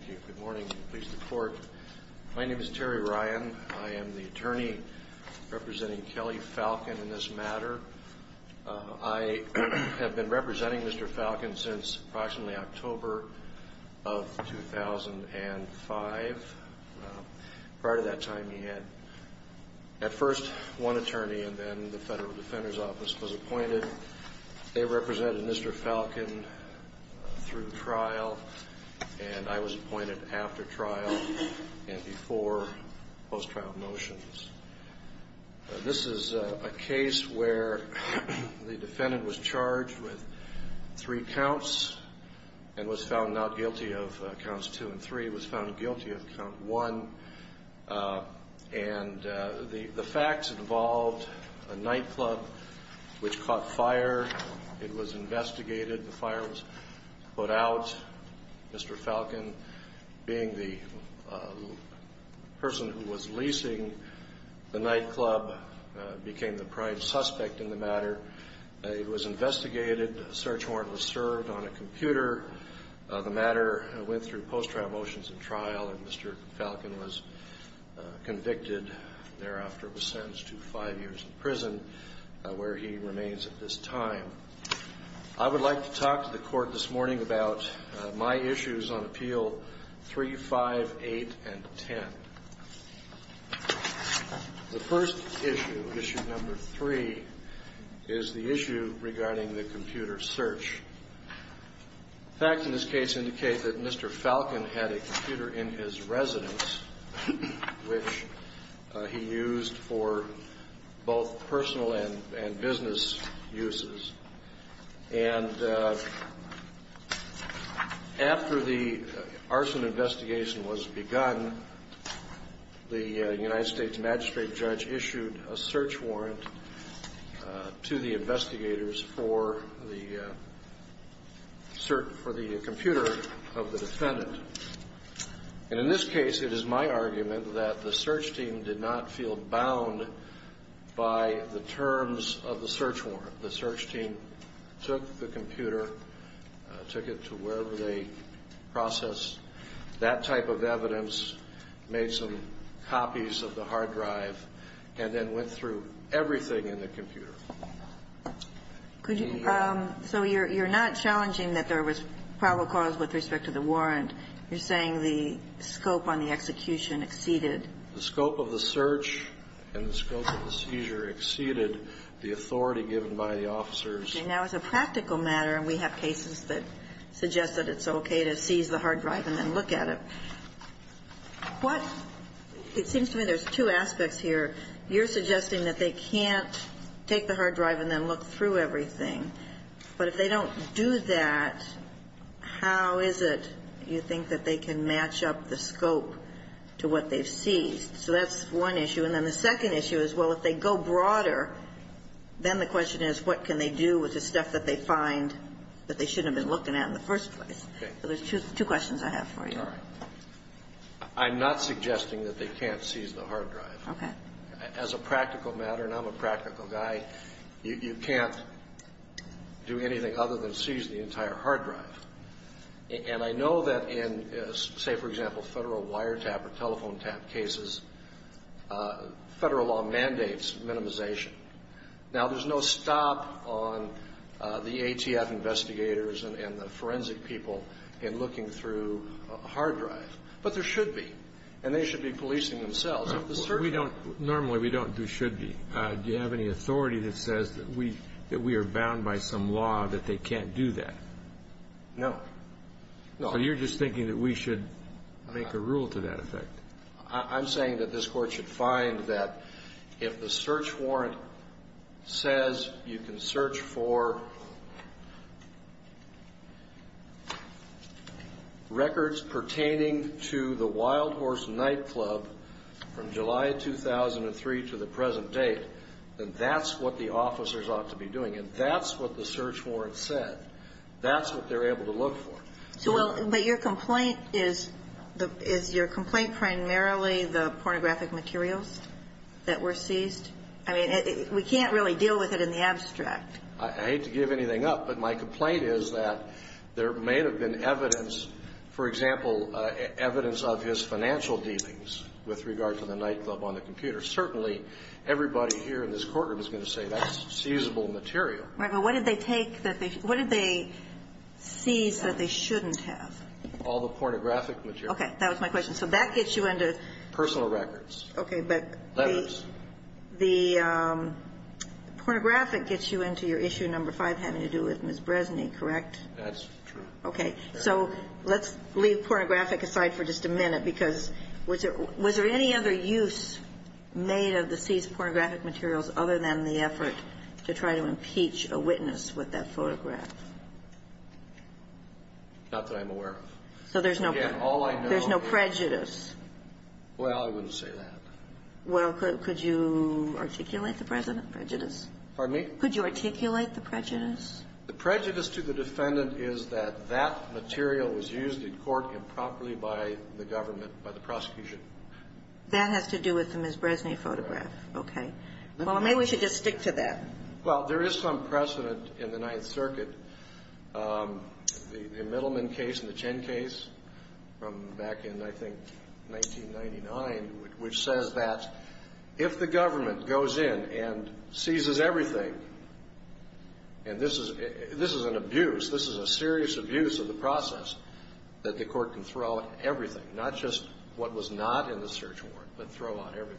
Good morning. My name is Terry Ryan. I am the attorney representing Kelly Falcon in this matter. I have been representing Mr. Falcon since approximately October of 2005, prior to that time he had at first one attorney and then the Federal Defender's Office was appointed. They represented Mr. Falcon through trial and I was appointed after trial and before post-trial motions. This is a case where the defendant was charged with three counts and was found not guilty of counts two and three. He was found guilty of count one and the facts involved a nightclub which caught fire. It was investigated. The fire was put out. Mr. Falcon, being the person who was leasing the nightclub, became the prime suspect in the matter. It was investigated. A search warrant was served on a computer. The matter went through post-trial motions and trial and Mr. Falcon was convicted. Thereafter was sentenced to five years in prison where he remains at this time. I would like to talk to the court this morning about my issues on Appeal 358 and 10. The first issue, issue number three, is the issue regarding the computer search. The facts in this case indicate that Mr. Falcon had a computer in his residence which he used for both personal and business uses. And after the arson investigation was begun, the United States magistrate judge issued a search warrant to the investigators for the computer search. For the computer of the defendant. And in this case, it is my argument that the search team did not feel bound by the terms of the search warrant. The search team took the computer, took it to wherever they processed that type of evidence, made some copies of the hard drive, and then went through everything in the computer. So you're not challenging that there was probable cause with respect to the warrant. You're saying the scope on the execution exceeded. The scope of the search and the scope of the seizure exceeded the authority given by the officers. Now, as a practical matter, and we have cases that suggest that it's okay to seize the hard drive and then look at it, what – it seems to me there's two aspects here. You're suggesting that they can't take the hard drive and then look through everything. But if they don't do that, how is it, you think, that they can match up the scope to what they've seized? So that's one issue. And then the second issue is, well, if they go broader, then the question is, what can they do with the stuff that they find that they shouldn't have been looking at in the first place? So there's two questions I have for you. All right. I'm not suggesting that they can't seize the hard drive. Okay. As a practical matter, and I'm a practical guy, you can't do anything other than seize the entire hard drive. And I know that in, say, for example, Federal wiretap or telephone tap cases, Federal law mandates minimization. Now, there's no stop on the ATF investigators and the forensic people in looking through a hard drive. But there should be, and they should be policing themselves. Normally, we don't do should be. Do you have any authority that says that we are bound by some law that they can't do that? No. So you're just thinking that we should make a rule to that effect? I'm saying that this Court should find that if the search warrant says you can search for records pertaining to the Wild Horse Nightclub from July 2003 to the present date, then that's what the officers ought to be doing. And that's what the search warrant said. That's what they're able to look for. Well, but your complaint is, is your complaint primarily the pornographic materials that were seized? I mean, we can't really deal with it in the abstract. I hate to give anything up, but my complaint is that there may have been evidence, for example, evidence of his financial dealings with regard to the nightclub on the computer. Certainly, everybody here in this courtroom is going to say that's seizable material. Margo, what did they take that they – what did they seize that they shouldn't have? All the pornographic materials. Okay. That was my question. So that gets you into – Personal records. Okay. But the – Letters. The pornographic gets you into your issue number 5 having to do with Ms. Bresny, correct? That's true. Okay. So let's leave pornographic aside for just a minute, because was there any other use made of the seized pornographic materials other than the effort to try to impeach a witness with that photograph? Not that I'm aware of. So there's no – Again, all I know – There's no prejudice. Well, I wouldn't say that. Well, could you articulate the President prejudice? Pardon me? Could you articulate the prejudice? The prejudice to the defendant is that that material was used in court improperly by the government, by the prosecution. That has to do with the Ms. Bresny photograph. Okay. Well, maybe we should just stick to that. Well, there is some precedent in the Ninth Circuit, the Middleman case and the Chen case from back in, I think, 1999, which says that if the government goes in and seizes everything, and this is an abuse, this is a serious abuse of the process, that the court can throw out everything, not just what was not in the search warrant, but throw out everything.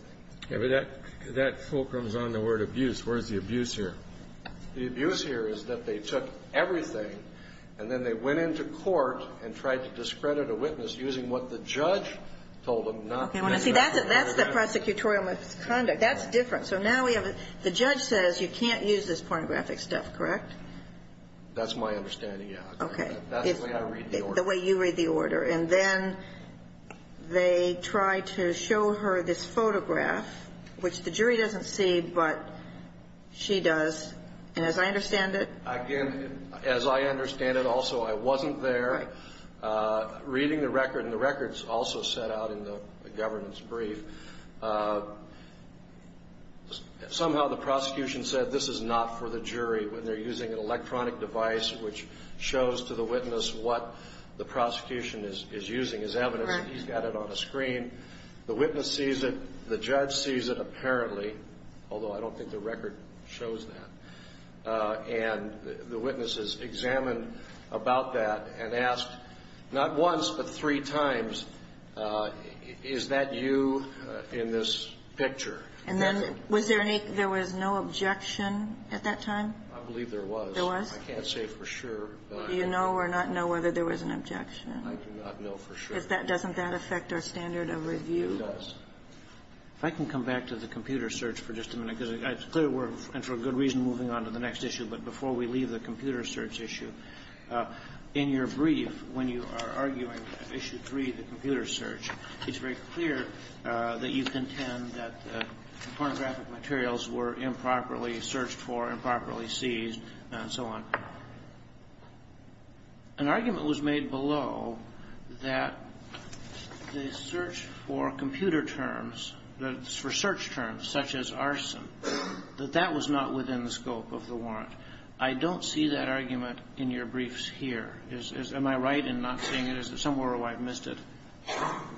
Yeah, but that fulcrum is on the word abuse. Where is the abuse here? The abuse here is that they took everything, and then they went into court and tried to discredit a witness using what the judge told them not to. Okay. See, that's the prosecutorial misconduct. That's different. So now we have – the judge says you can't use this pornographic stuff, correct? That's my understanding, yes. Okay. That's the way I read the order. And then they tried to show her this photograph, which the jury doesn't see, but she does. And as I understand it – Again, as I understand it also, I wasn't there. Right. Reading the record, and the records also set out in the governance brief, somehow the prosecution said this is not for the jury when they're using an electronic device which shows to the witness what the prosecution is using as evidence. He's got it on a screen. The witness sees it. The judge sees it, apparently, although I don't think the record shows that. And the witness is examined about that and asked not once but three times, is that you in this picture? And then was there any – there was no objection at that time? I believe there was. There was? I can't say for sure. Do you know or not know whether there was an objection? I do not know for sure. Doesn't that affect our standard of review? It does. If I can come back to the computer search for just a minute, because it's clear we're – and for good reason, moving on to the next issue. But before we leave the computer search issue, in your brief, when you are arguing issue three, the computer search, it's very clear that you contend that the pornographic materials were improperly searched for, improperly seized, and so on. An argument was made below that the search for computer terms, the research terms, such as arson, that that was not within the scope of the warrant. I don't see that argument in your briefs here. Am I right in not seeing it? Is it somewhere where I've missed it?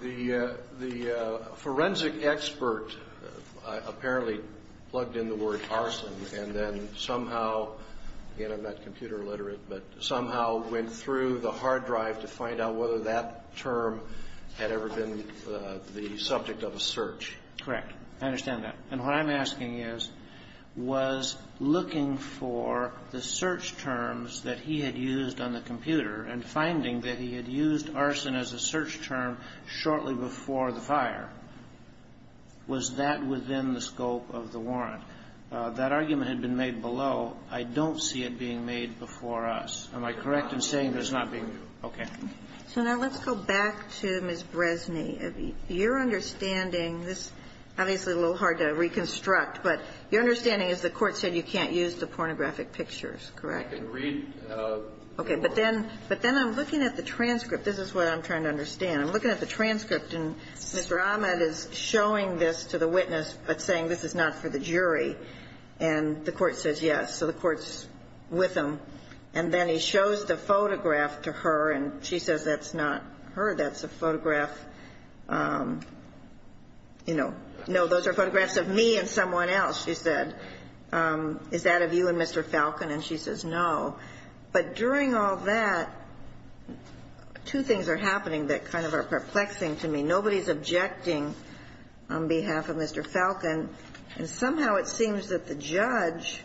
The forensic expert apparently plugged in the word arson and then somehow – again, I'm not computer literate – but somehow went through the hard drive to find out whether that term had ever been the subject of a search. Correct. I understand that. And what I'm asking is, was looking for the search terms that he had used on the computer and finding that he had used arson as a search term shortly before the fire, was that within the scope of the warrant? That argument had been made below. I don't see it being made before us. Am I correct in saying there's not being – okay. So now let's go back to Ms. Bresny. Your understanding – this is obviously a little hard to reconstruct, but your understanding is the court said you can't use the pornographic pictures, correct? I can read. Okay. But then I'm looking at the transcript. This is what I'm trying to understand. I'm looking at the transcript, and Mr. Ahmed is showing this to the witness but saying this is not for the jury. And the court says yes. So the court's with him. And then he shows the photograph to her, and she says that's not her. That's a photograph, you know – no, those are photographs of me and someone else, she said. Is that of you and Mr. Falcon? And she says no. But during all that, two things are happening that kind of are perplexing to me. Nobody's objecting on behalf of Mr. Falcon, and somehow it seems that the judge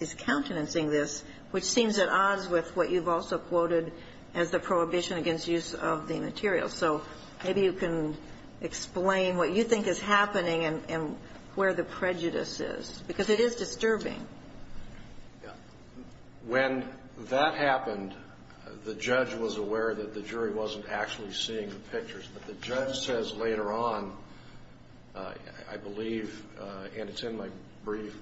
is countenancing this, which seems at odds with what you've also quoted as the prohibition against use of the material. So maybe you can explain what you think is happening and where the prejudice is, because it is disturbing. When that happened, the judge was aware that the jury wasn't actually seeing the pictures. But the judge says later on, I believe, and it's in my brief,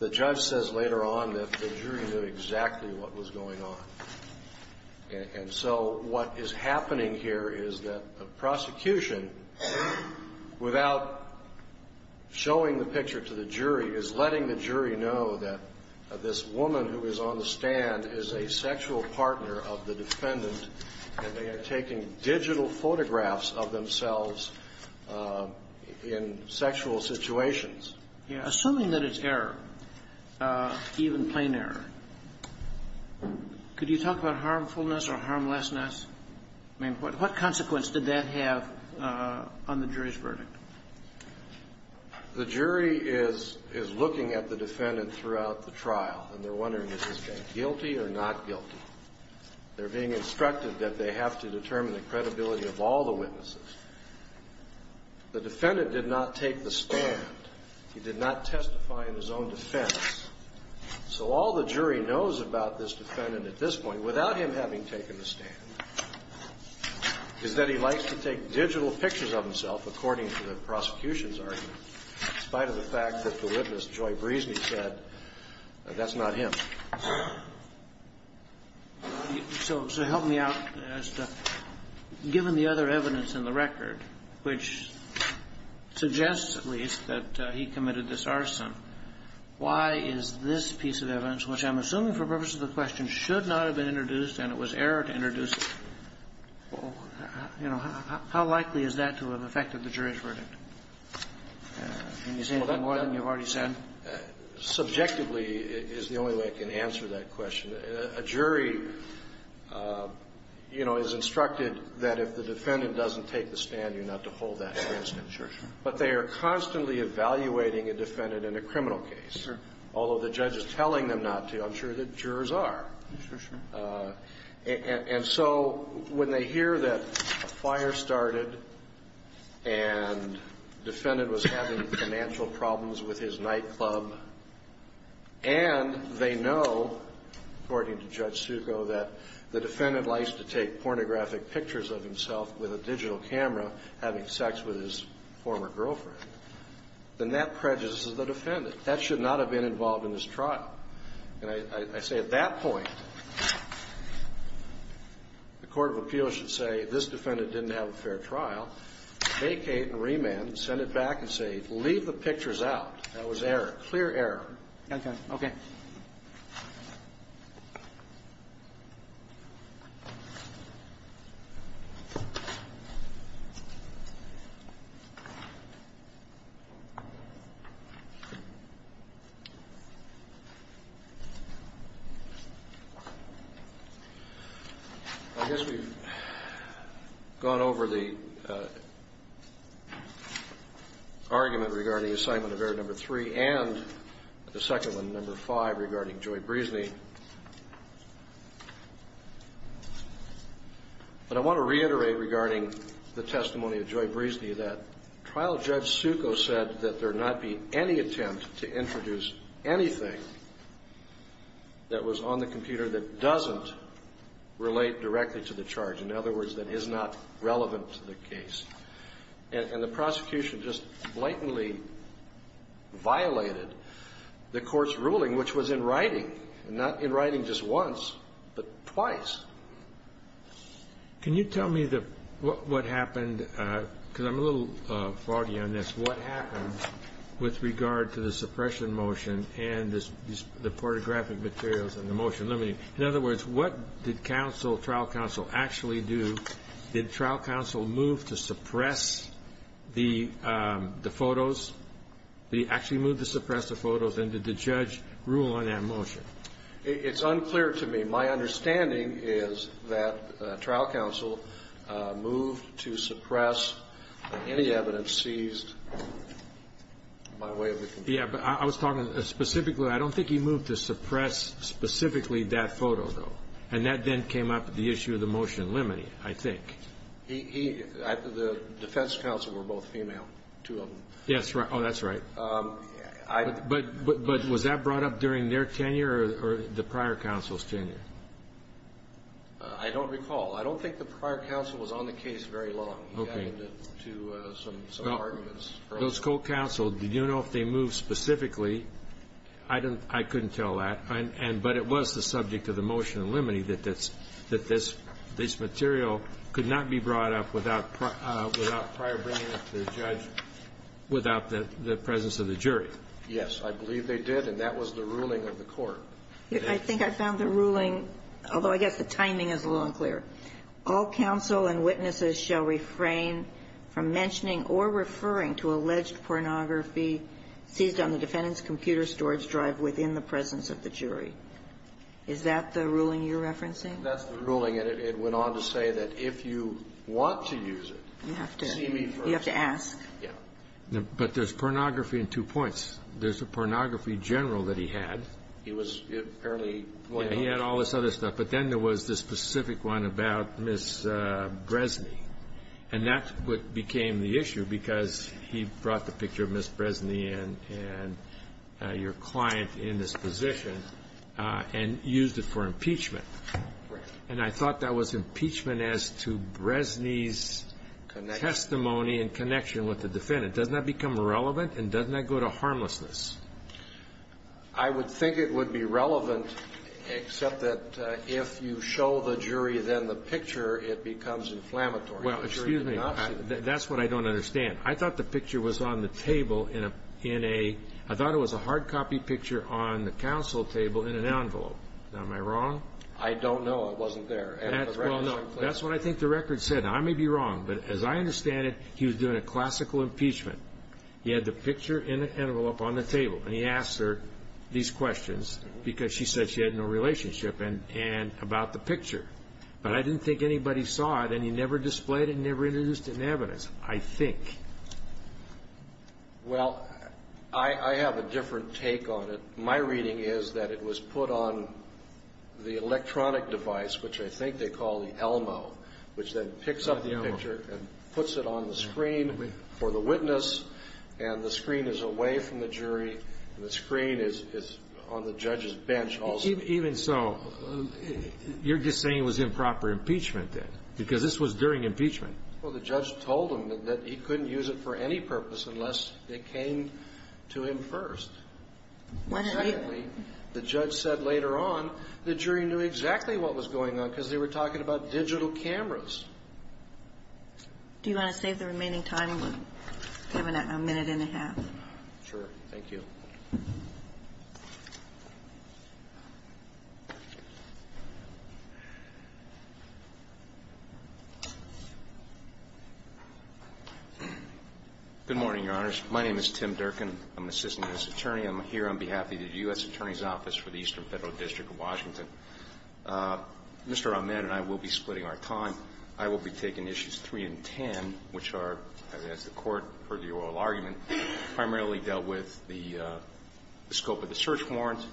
the judge says later on that the jury knew exactly what was going on. And so what is happening here is that the prosecution, without showing the picture to the jury, is letting the jury know that this woman who is on the stand is a sexual partner of the defendant, and they are taking digital photographs of themselves in sexual situations. Assuming that it's error, even plain error, could you talk about harmfulness or harmlessness? I mean, what consequence did that have on the jury's verdict? The jury is looking at the defendant throughout the trial, and they're wondering is this guy guilty or not guilty. They're being instructed that they have to determine the credibility of all the witnesses. The defendant did not take the stand. He did not testify in his own defense. So all the jury knows about this defendant at this point, without him having taken the stand, is that he likes to take digital pictures of himself, according to the prosecution's argument, in spite of the fact that the witness, Joy Breesney, said that's not him. So help me out as to, given the other evidence in the record, which suggests at least that he committed this arson, why is this piece of evidence, which I'm assuming for purposes of the question should not have been introduced and it was error to introduce it, you know, how likely is that to have affected the jury's verdict? Can you say anything more than you've already said? Subjectively is the only way I can answer that question. A jury, you know, is instructed that if the defendant doesn't take the stand, you're not to hold that instance. But they are constantly evaluating a defendant in a criminal case, although the judge is telling them not to. I'm sure that jurors are. And so when they hear that a fire started and the defendant was having financial problems with his nightclub, and they know, according to Judge Succo, that the defendant likes to take pornographic pictures of himself with a digital camera having sex with his former girlfriend, then that prejudices the defendant. That should not have been involved in this trial. And I say at that point, the court of appeals should say, this defendant didn't have a fair trial. Vacate and remand. Send it back and say leave the pictures out. That was error. Clear error. Okay. Okay. I guess we've gone over the argument regarding assignment of error number 3 and the But I want to reiterate regarding the testimony of Joy Breezny that Trial Judge Succo said that there not be any attempt to introduce anything that was on the computer that doesn't relate directly to the charge. In other words, that is not relevant to the case. And the prosecution just blatantly violated the court's ruling, which was in writing, and not in writing just once, but twice. Can you tell me what happened? Because I'm a little flawed on this. What happened with regard to the suppression motion and the pornographic materials and the motion? In other words, what did trial counsel actually do? Did trial counsel move to suppress the photos? Did he actually move to suppress the photos? And did the judge rule on that motion? It's unclear to me. My understanding is that trial counsel moved to suppress any evidence seized by way of the computer. Yeah, but I was talking specifically. I don't think he moved to suppress specifically that photo, though. And that then came up with the issue of the motion limiting it, I think. The defense counsel were both female, two of them. Yes. Oh, that's right. But was that brought up during their tenure or the prior counsel's tenure? I don't recall. I don't think the prior counsel was on the case very long. He added it to some arguments. Those co-counsel, did you know if they moved specifically? I couldn't tell that. But it was the subject of the motion limiting that this material could not be brought up without prior bringing it to the judge without the presence of the jury. Yes, I believe they did, and that was the ruling of the court. I think I found the ruling, although I guess the timing is a little unclear. All counsel and witnesses shall refrain from mentioning or referring to alleged pornography seized on the defendant's computer storage drive within the presence of the jury. Is that the ruling you're referencing? That's the ruling. And it went on to say that if you want to use it, see me first. You have to ask. Yes. But there's pornography in two points. There's the pornography general that he had. He was apparently pointing out. Yes. He had all this other stuff. But then there was this specific one about Ms. Bresny, and that's what became the issue because he brought the picture of Ms. Bresny and your client in this position and used it for impeachment. Right. And I thought that was impeachment as to Bresny's testimony in connection with the defendant. Doesn't that become irrelevant, and doesn't that go to harmlessness? I would think it would be relevant, except that if you show the jury then the picture, it becomes inflammatory. Well, excuse me. That's what I don't understand. I thought the picture was on the table in a – I thought it was a hard copy picture on the counsel table in an envelope. Am I wrong? I don't know. It wasn't there. Well, no. That's what I think the record said. Now, I may be wrong, but as I understand it, he was doing a classical impeachment. He had the picture in an envelope on the table, and he asked her these questions because she said she had no relationship about the picture. But I didn't think anybody saw it, and he never displayed it and never introduced it in evidence, I think. Well, I have a different take on it. My reading is that it was put on the electronic device, which I think they call the Elmo, which then picks up the picture and puts it on the screen for the witness, and the screen is away from the jury, and the screen is on the judge's bench also. Even so, you're just saying it was improper impeachment then, because this was during impeachment. Well, the judge told him that he couldn't use it for any purpose unless it came to him first. Secondly, the judge said later on the jury knew exactly what was going on because they were talking about digital cameras. Do you want to save the remaining time? We're giving it a minute and a half. Sure. Thank you. Good morning, Your Honors. My name is Tim Durkin. I'm an assistant U.S. attorney. I'm here on behalf of the U.S. Attorney's Office for the Eastern Federal District of Washington. Mr. Ahmed and I will be splitting our time. I will be taking issues 3 and 10, which are, as the Court heard the oral argument, primarily dealt with the scope of the search warrant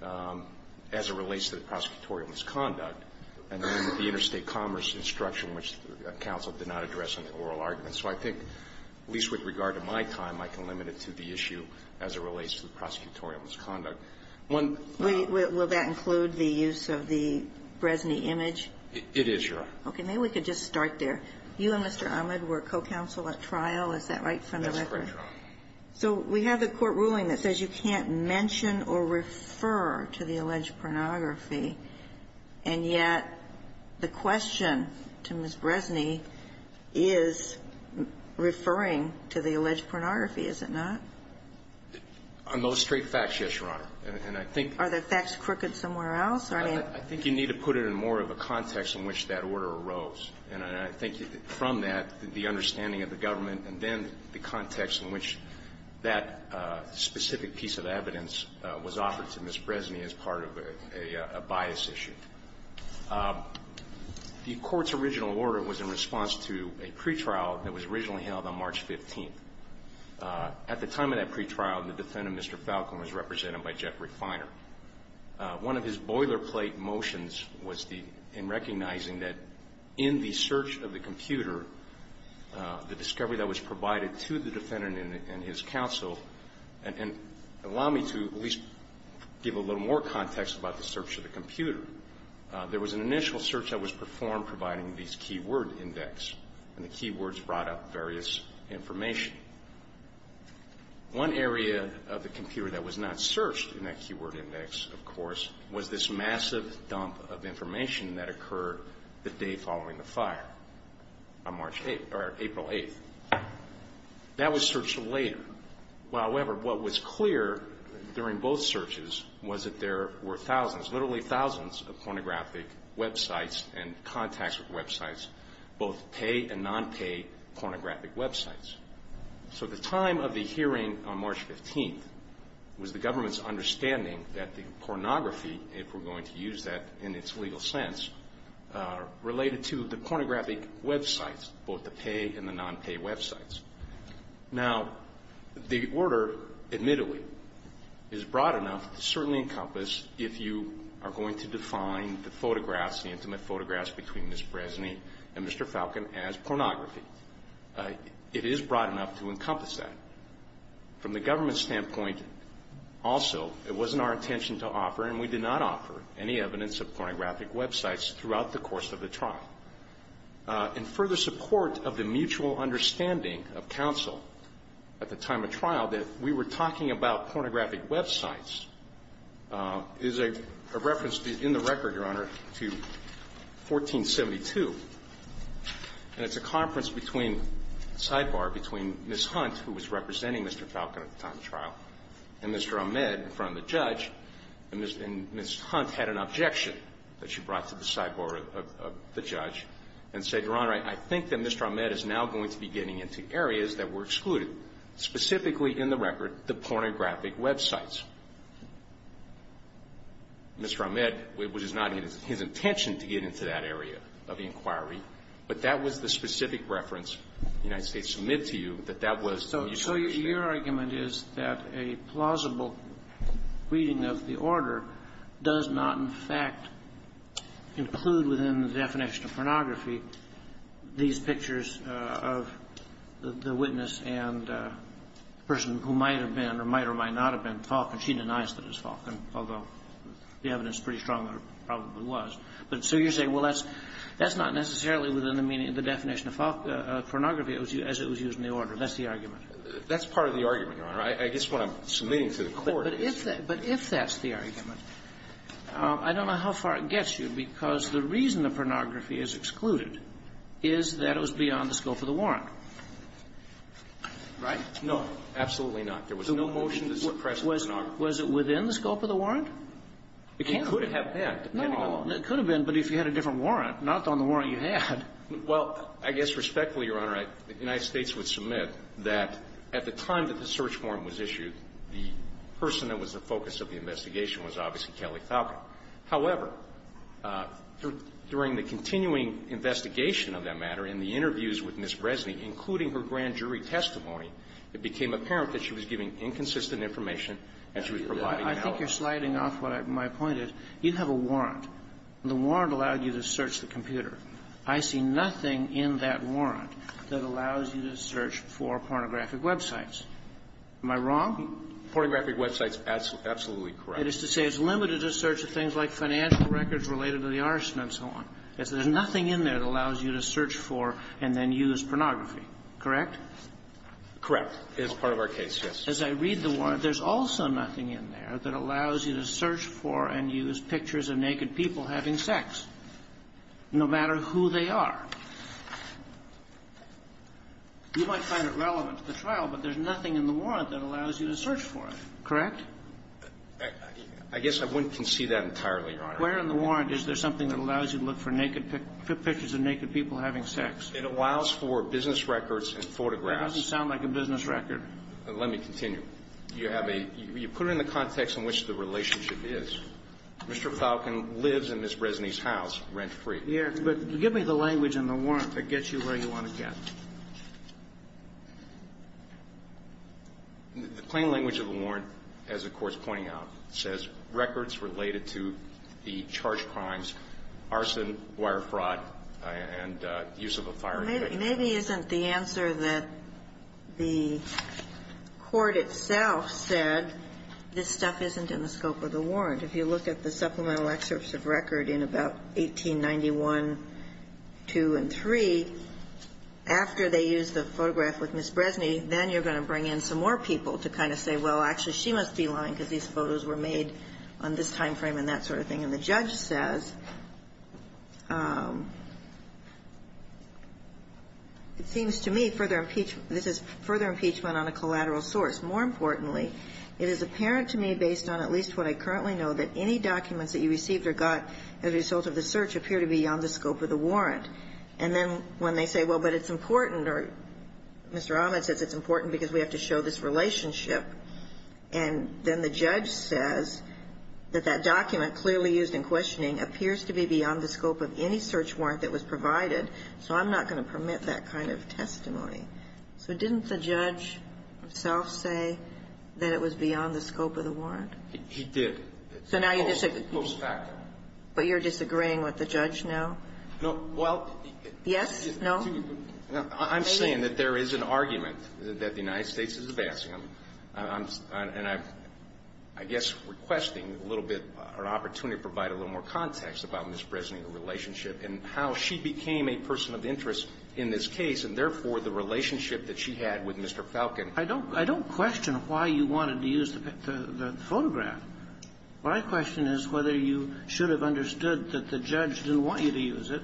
as it relates to the prosecutorial misconduct and the interstate commerce instruction, which counsel did not address in the oral argument. So I think, at least with regard to my time, I can limit it to the issue as it relates to the prosecutorial misconduct. Will that include the use of the Bresney image? It is, Your Honor. Okay. Maybe we could just start there. You and Mr. Ahmed were co-counsel at trial. Is that right, from the record? That's correct, Your Honor. So we have the court ruling that says you can't mention or refer to the alleged pornography. And yet the question to Ms. Bresney is referring to the alleged pornography, is it not? On those straight facts, yes, Your Honor. And I think you need to put it in more of a context in which that order arose. And I think from that, the understanding of the government and then the context in which that specific piece of evidence was offered to Ms. Bresney as part of a bias issue. The court's original order was in response to a pretrial that was originally held on March 15th. At the time of that pretrial, the defendant, Mr. Falcon, was represented by Jeffrey Feiner. One of his boilerplate motions was the end recognizing that in the search of the computer, there was an initial search that was performed providing these key word index. And the key words brought up various information. One area of the computer that was not searched in that key word index, of course, was this massive dump of information that occurred the day following the fire on April 8th. That was searched later. However, what was clear during both searches was that there were thousands, literally thousands of pornographic websites and contacts with websites, both pay and non-pay pornographic websites. So the time of the hearing on March 15th was the government's understanding that the pornography, if we're going to use that in its legal sense, related to the non-pay websites. Now, the order, admittedly, is broad enough to certainly encompass if you are going to define the photographs, the intimate photographs between Ms. Bresny and Mr. Falcon as pornography. It is broad enough to encompass that. From the government's standpoint, also, it wasn't our intention to offer, and we did not offer, any evidence of pornographic websites throughout the course of the trial. In further support of the mutual understanding of counsel at the time of trial, that if we were talking about pornographic websites, is a reference in the record, Your Honor, to 1472. And it's a conference between, sidebar, between Ms. Hunt, who was representing Mr. Falcon at the time of trial, and Mr. Ahmed in front of the judge, and Ms. Hunt had an objection that she brought to the sidebar of the judge, and said, Your Honor, I think that Mr. Ahmed is now going to be getting into areas that were excluded, specifically in the record, the pornographic websites. Mr. Ahmed, it was not his intention to get into that area of the inquiry, but that was the specific reference the United States submit to you, that that was mutual understanding. Your argument is that a plausible reading of the order does not, in fact, include within the definition of pornography these pictures of the witness and the person who might have been or might or might not have been Falcon. She denies that it was Falcon, although the evidence is pretty strong that it probably was. But so you're saying, well, that's not necessarily within the definition of pornography as it was used in the order. That's the argument. That's part of the argument, Your Honor. I guess what I'm submitting to the Court is that – But if that's the argument, I don't know how far it gets you, because the reason the pornography is excluded is that it was beyond the scope of the warrant, right? No, absolutely not. There was no motion to suppress pornography. Was it within the scope of the warrant? It can't be. It could have been, depending on the warrant. No. It could have been, but if you had a different warrant, not on the warrant you had. Well, I guess respectfully, Your Honor, the United States would submit that at the time that the search warrant was issued, the person that was the focus of the investigation was obviously Kelly Falcon. However, during the continuing investigation of that matter, in the interviews with Ms. Bresnik, including her grand jury testimony, it became apparent that she was giving inconsistent information and she was providing an alibi. I think you're sliding off what my point is. You have a warrant. The warrant allowed you to search the computer. I see nothing in that warrant that allows you to search for pornographic websites. Am I wrong? Pornographic websites, absolutely correct. That is to say, it's limited to search of things like financial records related to the arson and so on. There's nothing in there that allows you to search for and then use pornography. Correct? Correct. As part of our case, yes. As I read the warrant, there's also nothing in there that allows you to search for and use pictures of naked people having sex, no matter who they are. You might find it relevant to the trial, but there's nothing in the warrant that allows you to search for it. Correct? I guess I wouldn't concede that entirely, Your Honor. Where in the warrant is there something that allows you to look for naked pictures of naked people having sex? It allows for business records and photographs. That doesn't sound like a business record. Let me continue. You put it in the context in which the relationship is. Mr. Falcon lives in Ms. Bresny's house rent-free. Yes, but give me the language in the warrant that gets you where you want to get. The plain language of the warrant, as the Court's pointing out, says records related to the charged crimes, arson, wire fraud, and use of a firearm. Well, maybe isn't the answer that the court itself said, this stuff isn't in the scope of the warrant. If you look at the supplemental excerpts of record in about 1891, 2, and 3, after they use the photograph with Ms. Bresny, then you're going to bring in some more people to kind of say, well, actually she must be lying because these photos were made on this timeframe and that sort of thing. And the judge says, it seems to me further impeachment on a collateral source. More importantly, it is apparent to me, based on at least what I currently know, that any documents that you received or got as a result of the search appear to be on the scope of the warrant. And then when they say, well, but it's important, or Mr. Ahmed says it's important because we have to show this relationship. And then the judge says that that document clearly used in questioning appears to be beyond the scope of any search warrant that was provided, so I'm not going to permit that kind of testimony. So didn't the judge himself say that it was beyond the scope of the warrant? He did. So now you disagree. It's a false fact. But you're disagreeing with the judge now? No. Well, he did. Yes? No? I'm saying that there is an argument that the United States is a bastion. And I'm, I guess, requesting a little bit or an opportunity to provide a little more context about Ms. Bresnik's relationship and how she became a person of interest in this case, and therefore the relationship that she had with Mr. Falcon. I don't question why you wanted to use the photograph. My question is whether you should have understood that the judge didn't want you to use it.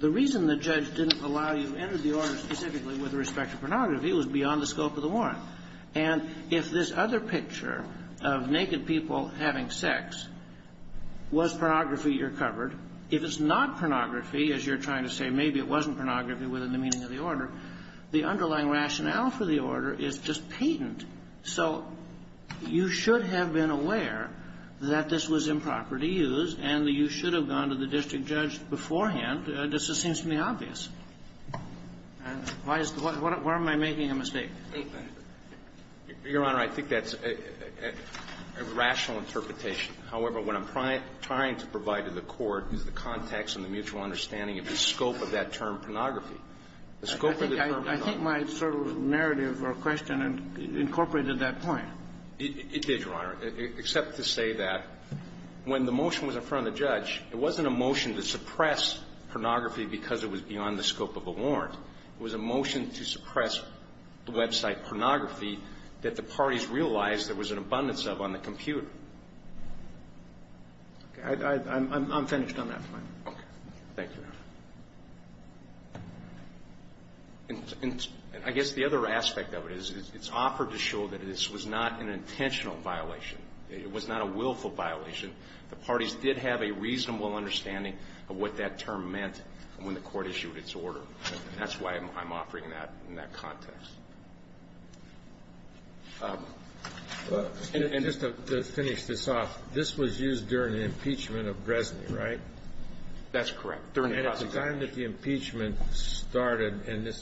The reason the judge didn't allow you to enter the order specifically with respect to pornography was beyond the scope of the warrant. And if this other picture of naked people having sex was pornography, you're covered. If it's not pornography, as you're trying to say, maybe it wasn't pornography within the meaning of the order, the underlying rationale for the order is just patent. So you should have been aware that this was improper to use and that you should have gone to the district judge beforehand. This just seems to me obvious. Why is the question? Why am I making a mistake? Your Honor, I think that's a rational interpretation. However, what I'm trying to provide to the Court is the context and the mutual understanding of the scope of that term, pornography. The scope of the term pornography. I think my sort of narrative or question incorporated that point. It did, Your Honor, except to say that when the motion was in front of the judge, it wasn't a motion to suppress pornography because it was beyond the scope of a warrant. It was a motion to suppress the website pornography that the parties realized there was an abundance of on the computer. Okay. I'm finished on that point. Okay. Thank you, Your Honor. And I guess the other aspect of it is it's offered to show that this was not an intentional violation. It was not a willful violation. The parties did have a reasonable understanding of what that term meant when the Court issued its order. And that's why I'm offering that in that context. And just to finish this off, this was used during the impeachment of Bresney, right? That's correct. During the prosecution. And at the time that the impeachment started and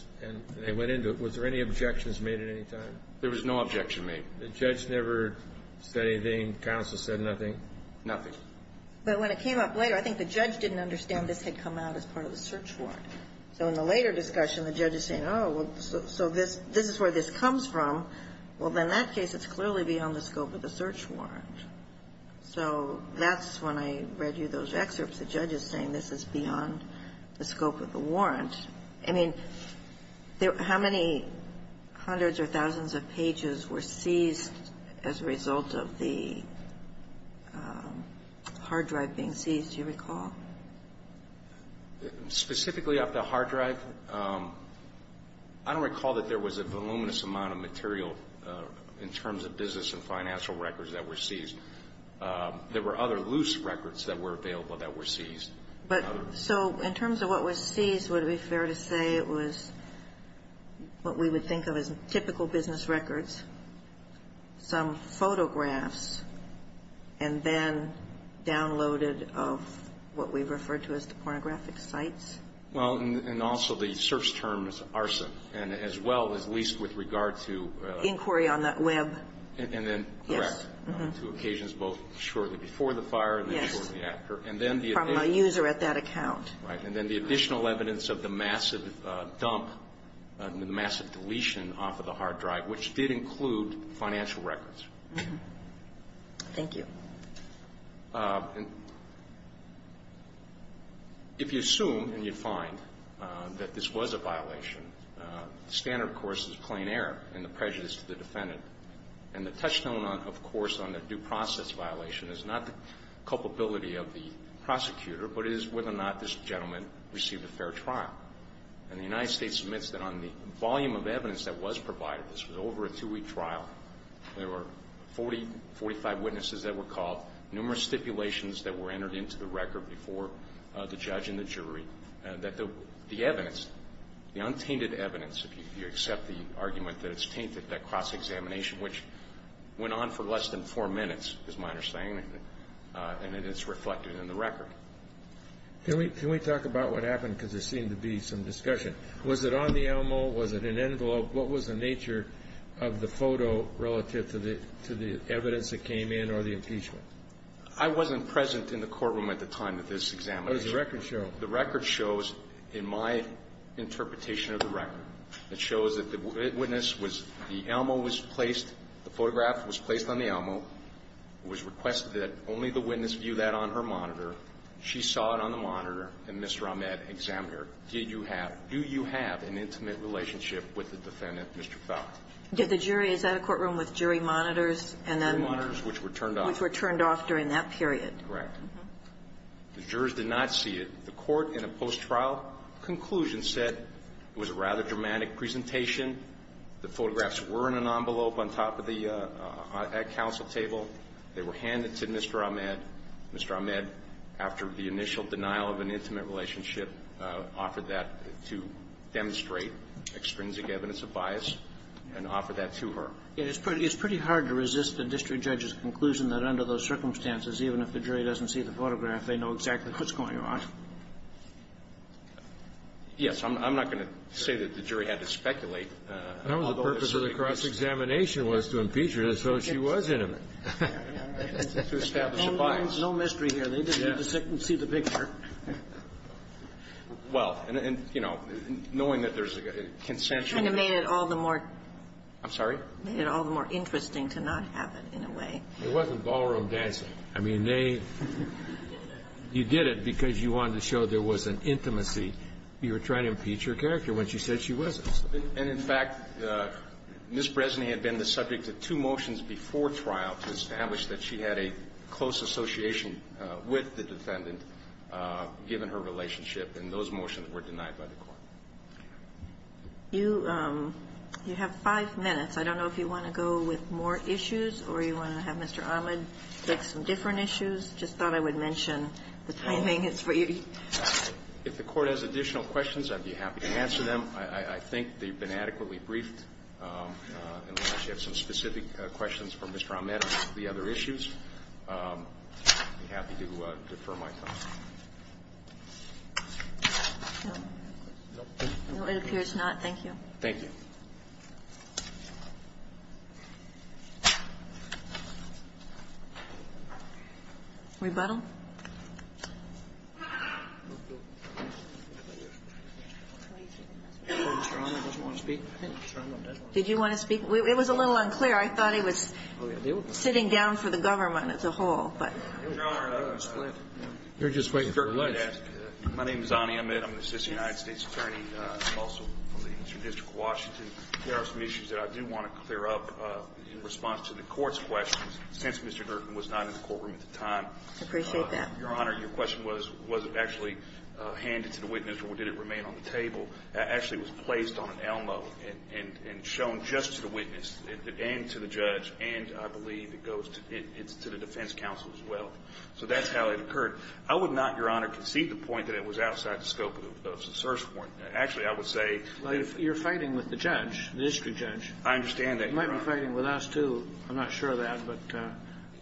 they went into it, was there any objections made at any time? There was no objection made. The judge never said anything. Counsel said nothing. But when it came up later, I think the judge didn't understand this had come out as part of the search warrant. So in the later discussion, the judge is saying, oh, so this is where this comes from. Well, in that case, it's clearly beyond the scope of the search warrant. So that's when I read you those excerpts, the judge is saying this is beyond the scope of the warrant. I mean, how many hundreds or thousands of pages were seized as a result of the hard drive being seized, do you recall? Specifically of the hard drive, I don't recall that there was a voluminous amount of material in terms of business and financial records that were seized. There were other loose records that were available that were seized. But so in terms of what was seized, would it be fair to say it was what we would think of as typical business records, some photographs, and then downloaded of what we refer to as the pornographic sites? Well, and also the search term is arson, and as well as leased with regard to Inquiry on the web. And then, correct, to occasions both shortly before the fire and shortly after. Yes. From a user at that account. Right. And then the additional evidence of the massive dump, the massive deletion off of the hard drive, which did include financial records. Thank you. If you assume and you find that this was a violation, the standard, of course, is plain error and the prejudice to the defendant. And the touchstone, of course, on the due process violation is not the culpability of the prosecutor, but it is whether or not this gentleman received a fair trial. And the United States admits that on the volume of evidence that was provided, this was over a two-week trial, there were 40, 45 witnesses that were called, numerous stipulations that were entered into the record before the judge and the jury, that the evidence, the untainted evidence, if you accept the argument that it's tainted, that cross-examination, which went on for less than four minutes, is my understanding, and it is reflected in the record. Can we talk about what happened? Because there seemed to be some discussion. Was it on the ELMO? Was it an envelope? What was the nature of the photo relative to the evidence that came in or the impeachment? I wasn't present in the courtroom at the time of this examination. What does the record show? The record shows, in my interpretation of the record, that shows that the witness was the ELMO was placed, the photograph was placed on the ELMO. It was requested that only the witness view that on her monitor. She saw it on the monitor, and Mr. Ahmed examined her. Did you have, do you have an intimate relationship with the defendant, Mr. Fowler? Did the jury? Is that a courtroom with jury monitors and then the jury monitors, which were turned off? Which were turned off during that period. Correct. The jurors did not see it. The court in a post-trial conclusion said it was a rather dramatic presentation. The photographs were in an envelope on top of the council table. They were handed to Mr. Ahmed. Mr. Ahmed, after the initial denial of an intimate relationship, offered that to demonstrate extrinsic evidence of bias and offered that to her. It's pretty hard to resist a district judge's conclusion that under those circumstances, even if the jury doesn't see the photograph, they know exactly what's going on. Yes. I'm not going to say that the jury had to speculate. The purpose of the cross-examination was to impeach her, so she was intimate. To establish a bias. And there's no mystery here. They didn't see the picture. Well, and, you know, knowing that there's a consensual. Kind of made it all the more. I'm sorry? Made it all the more interesting to not have it, in a way. It wasn't ballroom dancing. I mean, they. You did it because you wanted to show there was an intimacy. You were trying to impeach her character when she said she wasn't. And, in fact, Ms. Bresny had been the subject of two motions before trial to establish that she had a close association with the defendant, given her relationship, and those motions were denied by the Court. You have five minutes. I don't know if you want to go with more issues or you want to have Mr. Ahmed take some different issues. I just thought I would mention the timing is for you. If the Court has additional questions, I'd be happy to answer them. I think they've been adequately briefed. Unless you have some specific questions for Mr. Ahmed on the other issues, I'd be happy to defer my time. No, it appears not. Thank you. Thank you. Rebuttal? Did you want to speak? It was a little unclear. I thought he was sitting down for the government as a whole, but. You're just waiting for a list. My name is Zannie Ahmed. I'm an assistant United States attorney. I'm also from the Eastern District of Washington. There are some issues that I do want to clear up in response to the Court's questions. Since Mr. Norton was not in the courtroom at the time. I appreciate that. Your Honor, your question was, was it actually handed to the witness or did it remain on the table. Actually, it was placed on an Elmo and shown just to the witness and to the judge, and I believe it goes to the defense counsel as well. So that's how it occurred. I would not, Your Honor, concede the point that it was outside the scope of the search warrant. Actually, I would say. You're fighting with the judge, the district judge. I understand that. You might be fighting with us, too. I'm not sure of that, but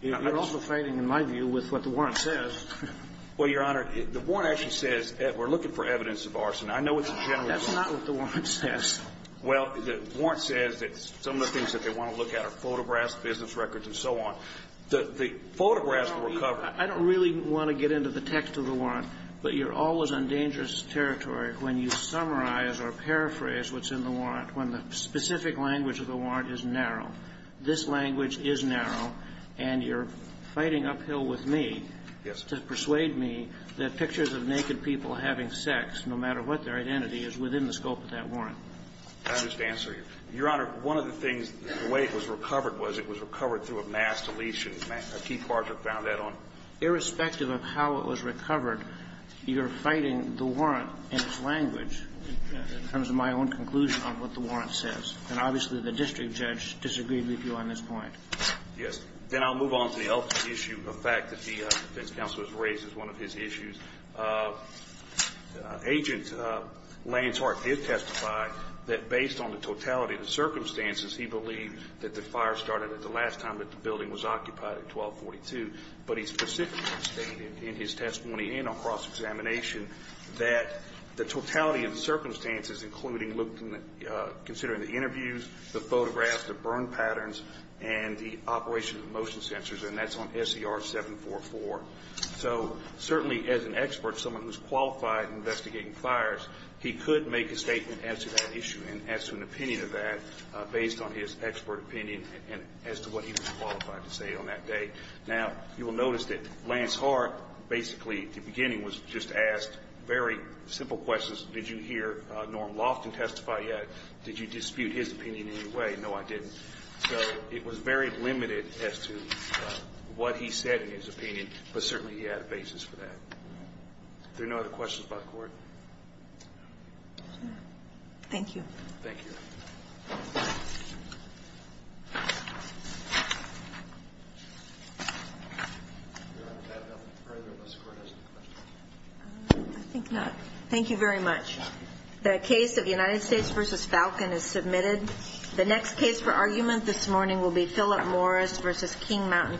you're also fighting, in my view, with what the warrant says. Well, Your Honor, the warrant actually says we're looking for evidence of arson. I know it's a general rule. That's not what the warrant says. Well, the warrant says that some of the things that they want to look at are photographs, business records, and so on. The photographs were covered. I don't really want to get into the text of the warrant, but you're always on dangerous territory when you summarize or paraphrase what's in the warrant, when the specific language of the warrant is narrow. This language is narrow, and you're fighting uphill with me to persuade me that pictures of naked people having sex, no matter what their identity is, is within the scope of that warrant. I understand, sir. Your Honor, one of the things, the way it was recovered was it was recovered through a mass deletion. Keith Bartlett found that on it. Irrespective of how it was recovered, you're fighting the warrant in its language in terms of my own conclusion on what the warrant says. And obviously, the district judge disagreed with you on this point. Yes. Then I'll move on to the other issue of fact that the defense counsel has raised as one of his issues. Agent Lance Hart did testify that based on the totality of the circumstances, he believed that the fire started at the last time that the building was occupied at 1242. But he specifically stated in his testimony and on cross-examination that the totality of the circumstances, including considering the interviews, the photographs, the burn patterns, and the operation of the motion sensors, and that's on SCR 744. So certainly, as an expert, someone who's qualified in investigating fires, he could make a statement as to that issue and as to an opinion of that based on his expert opinion and as to what he was qualified to say on that day. Now, you will notice that Lance Hart basically at the beginning was just asked very simple questions. Did you hear Norm Loftin testify yet? Did you dispute his opinion in any way? No, I didn't. So it was very limited as to what he said in his opinion, but certainly he had a basis for that. Are there no other questions by the Court? Thank you. Thank you. I think not. Thank you very much. The case of United States v. Falcon is submitted. The next case for argument this morning will be Phillip Morris v. King Mountain Thank you.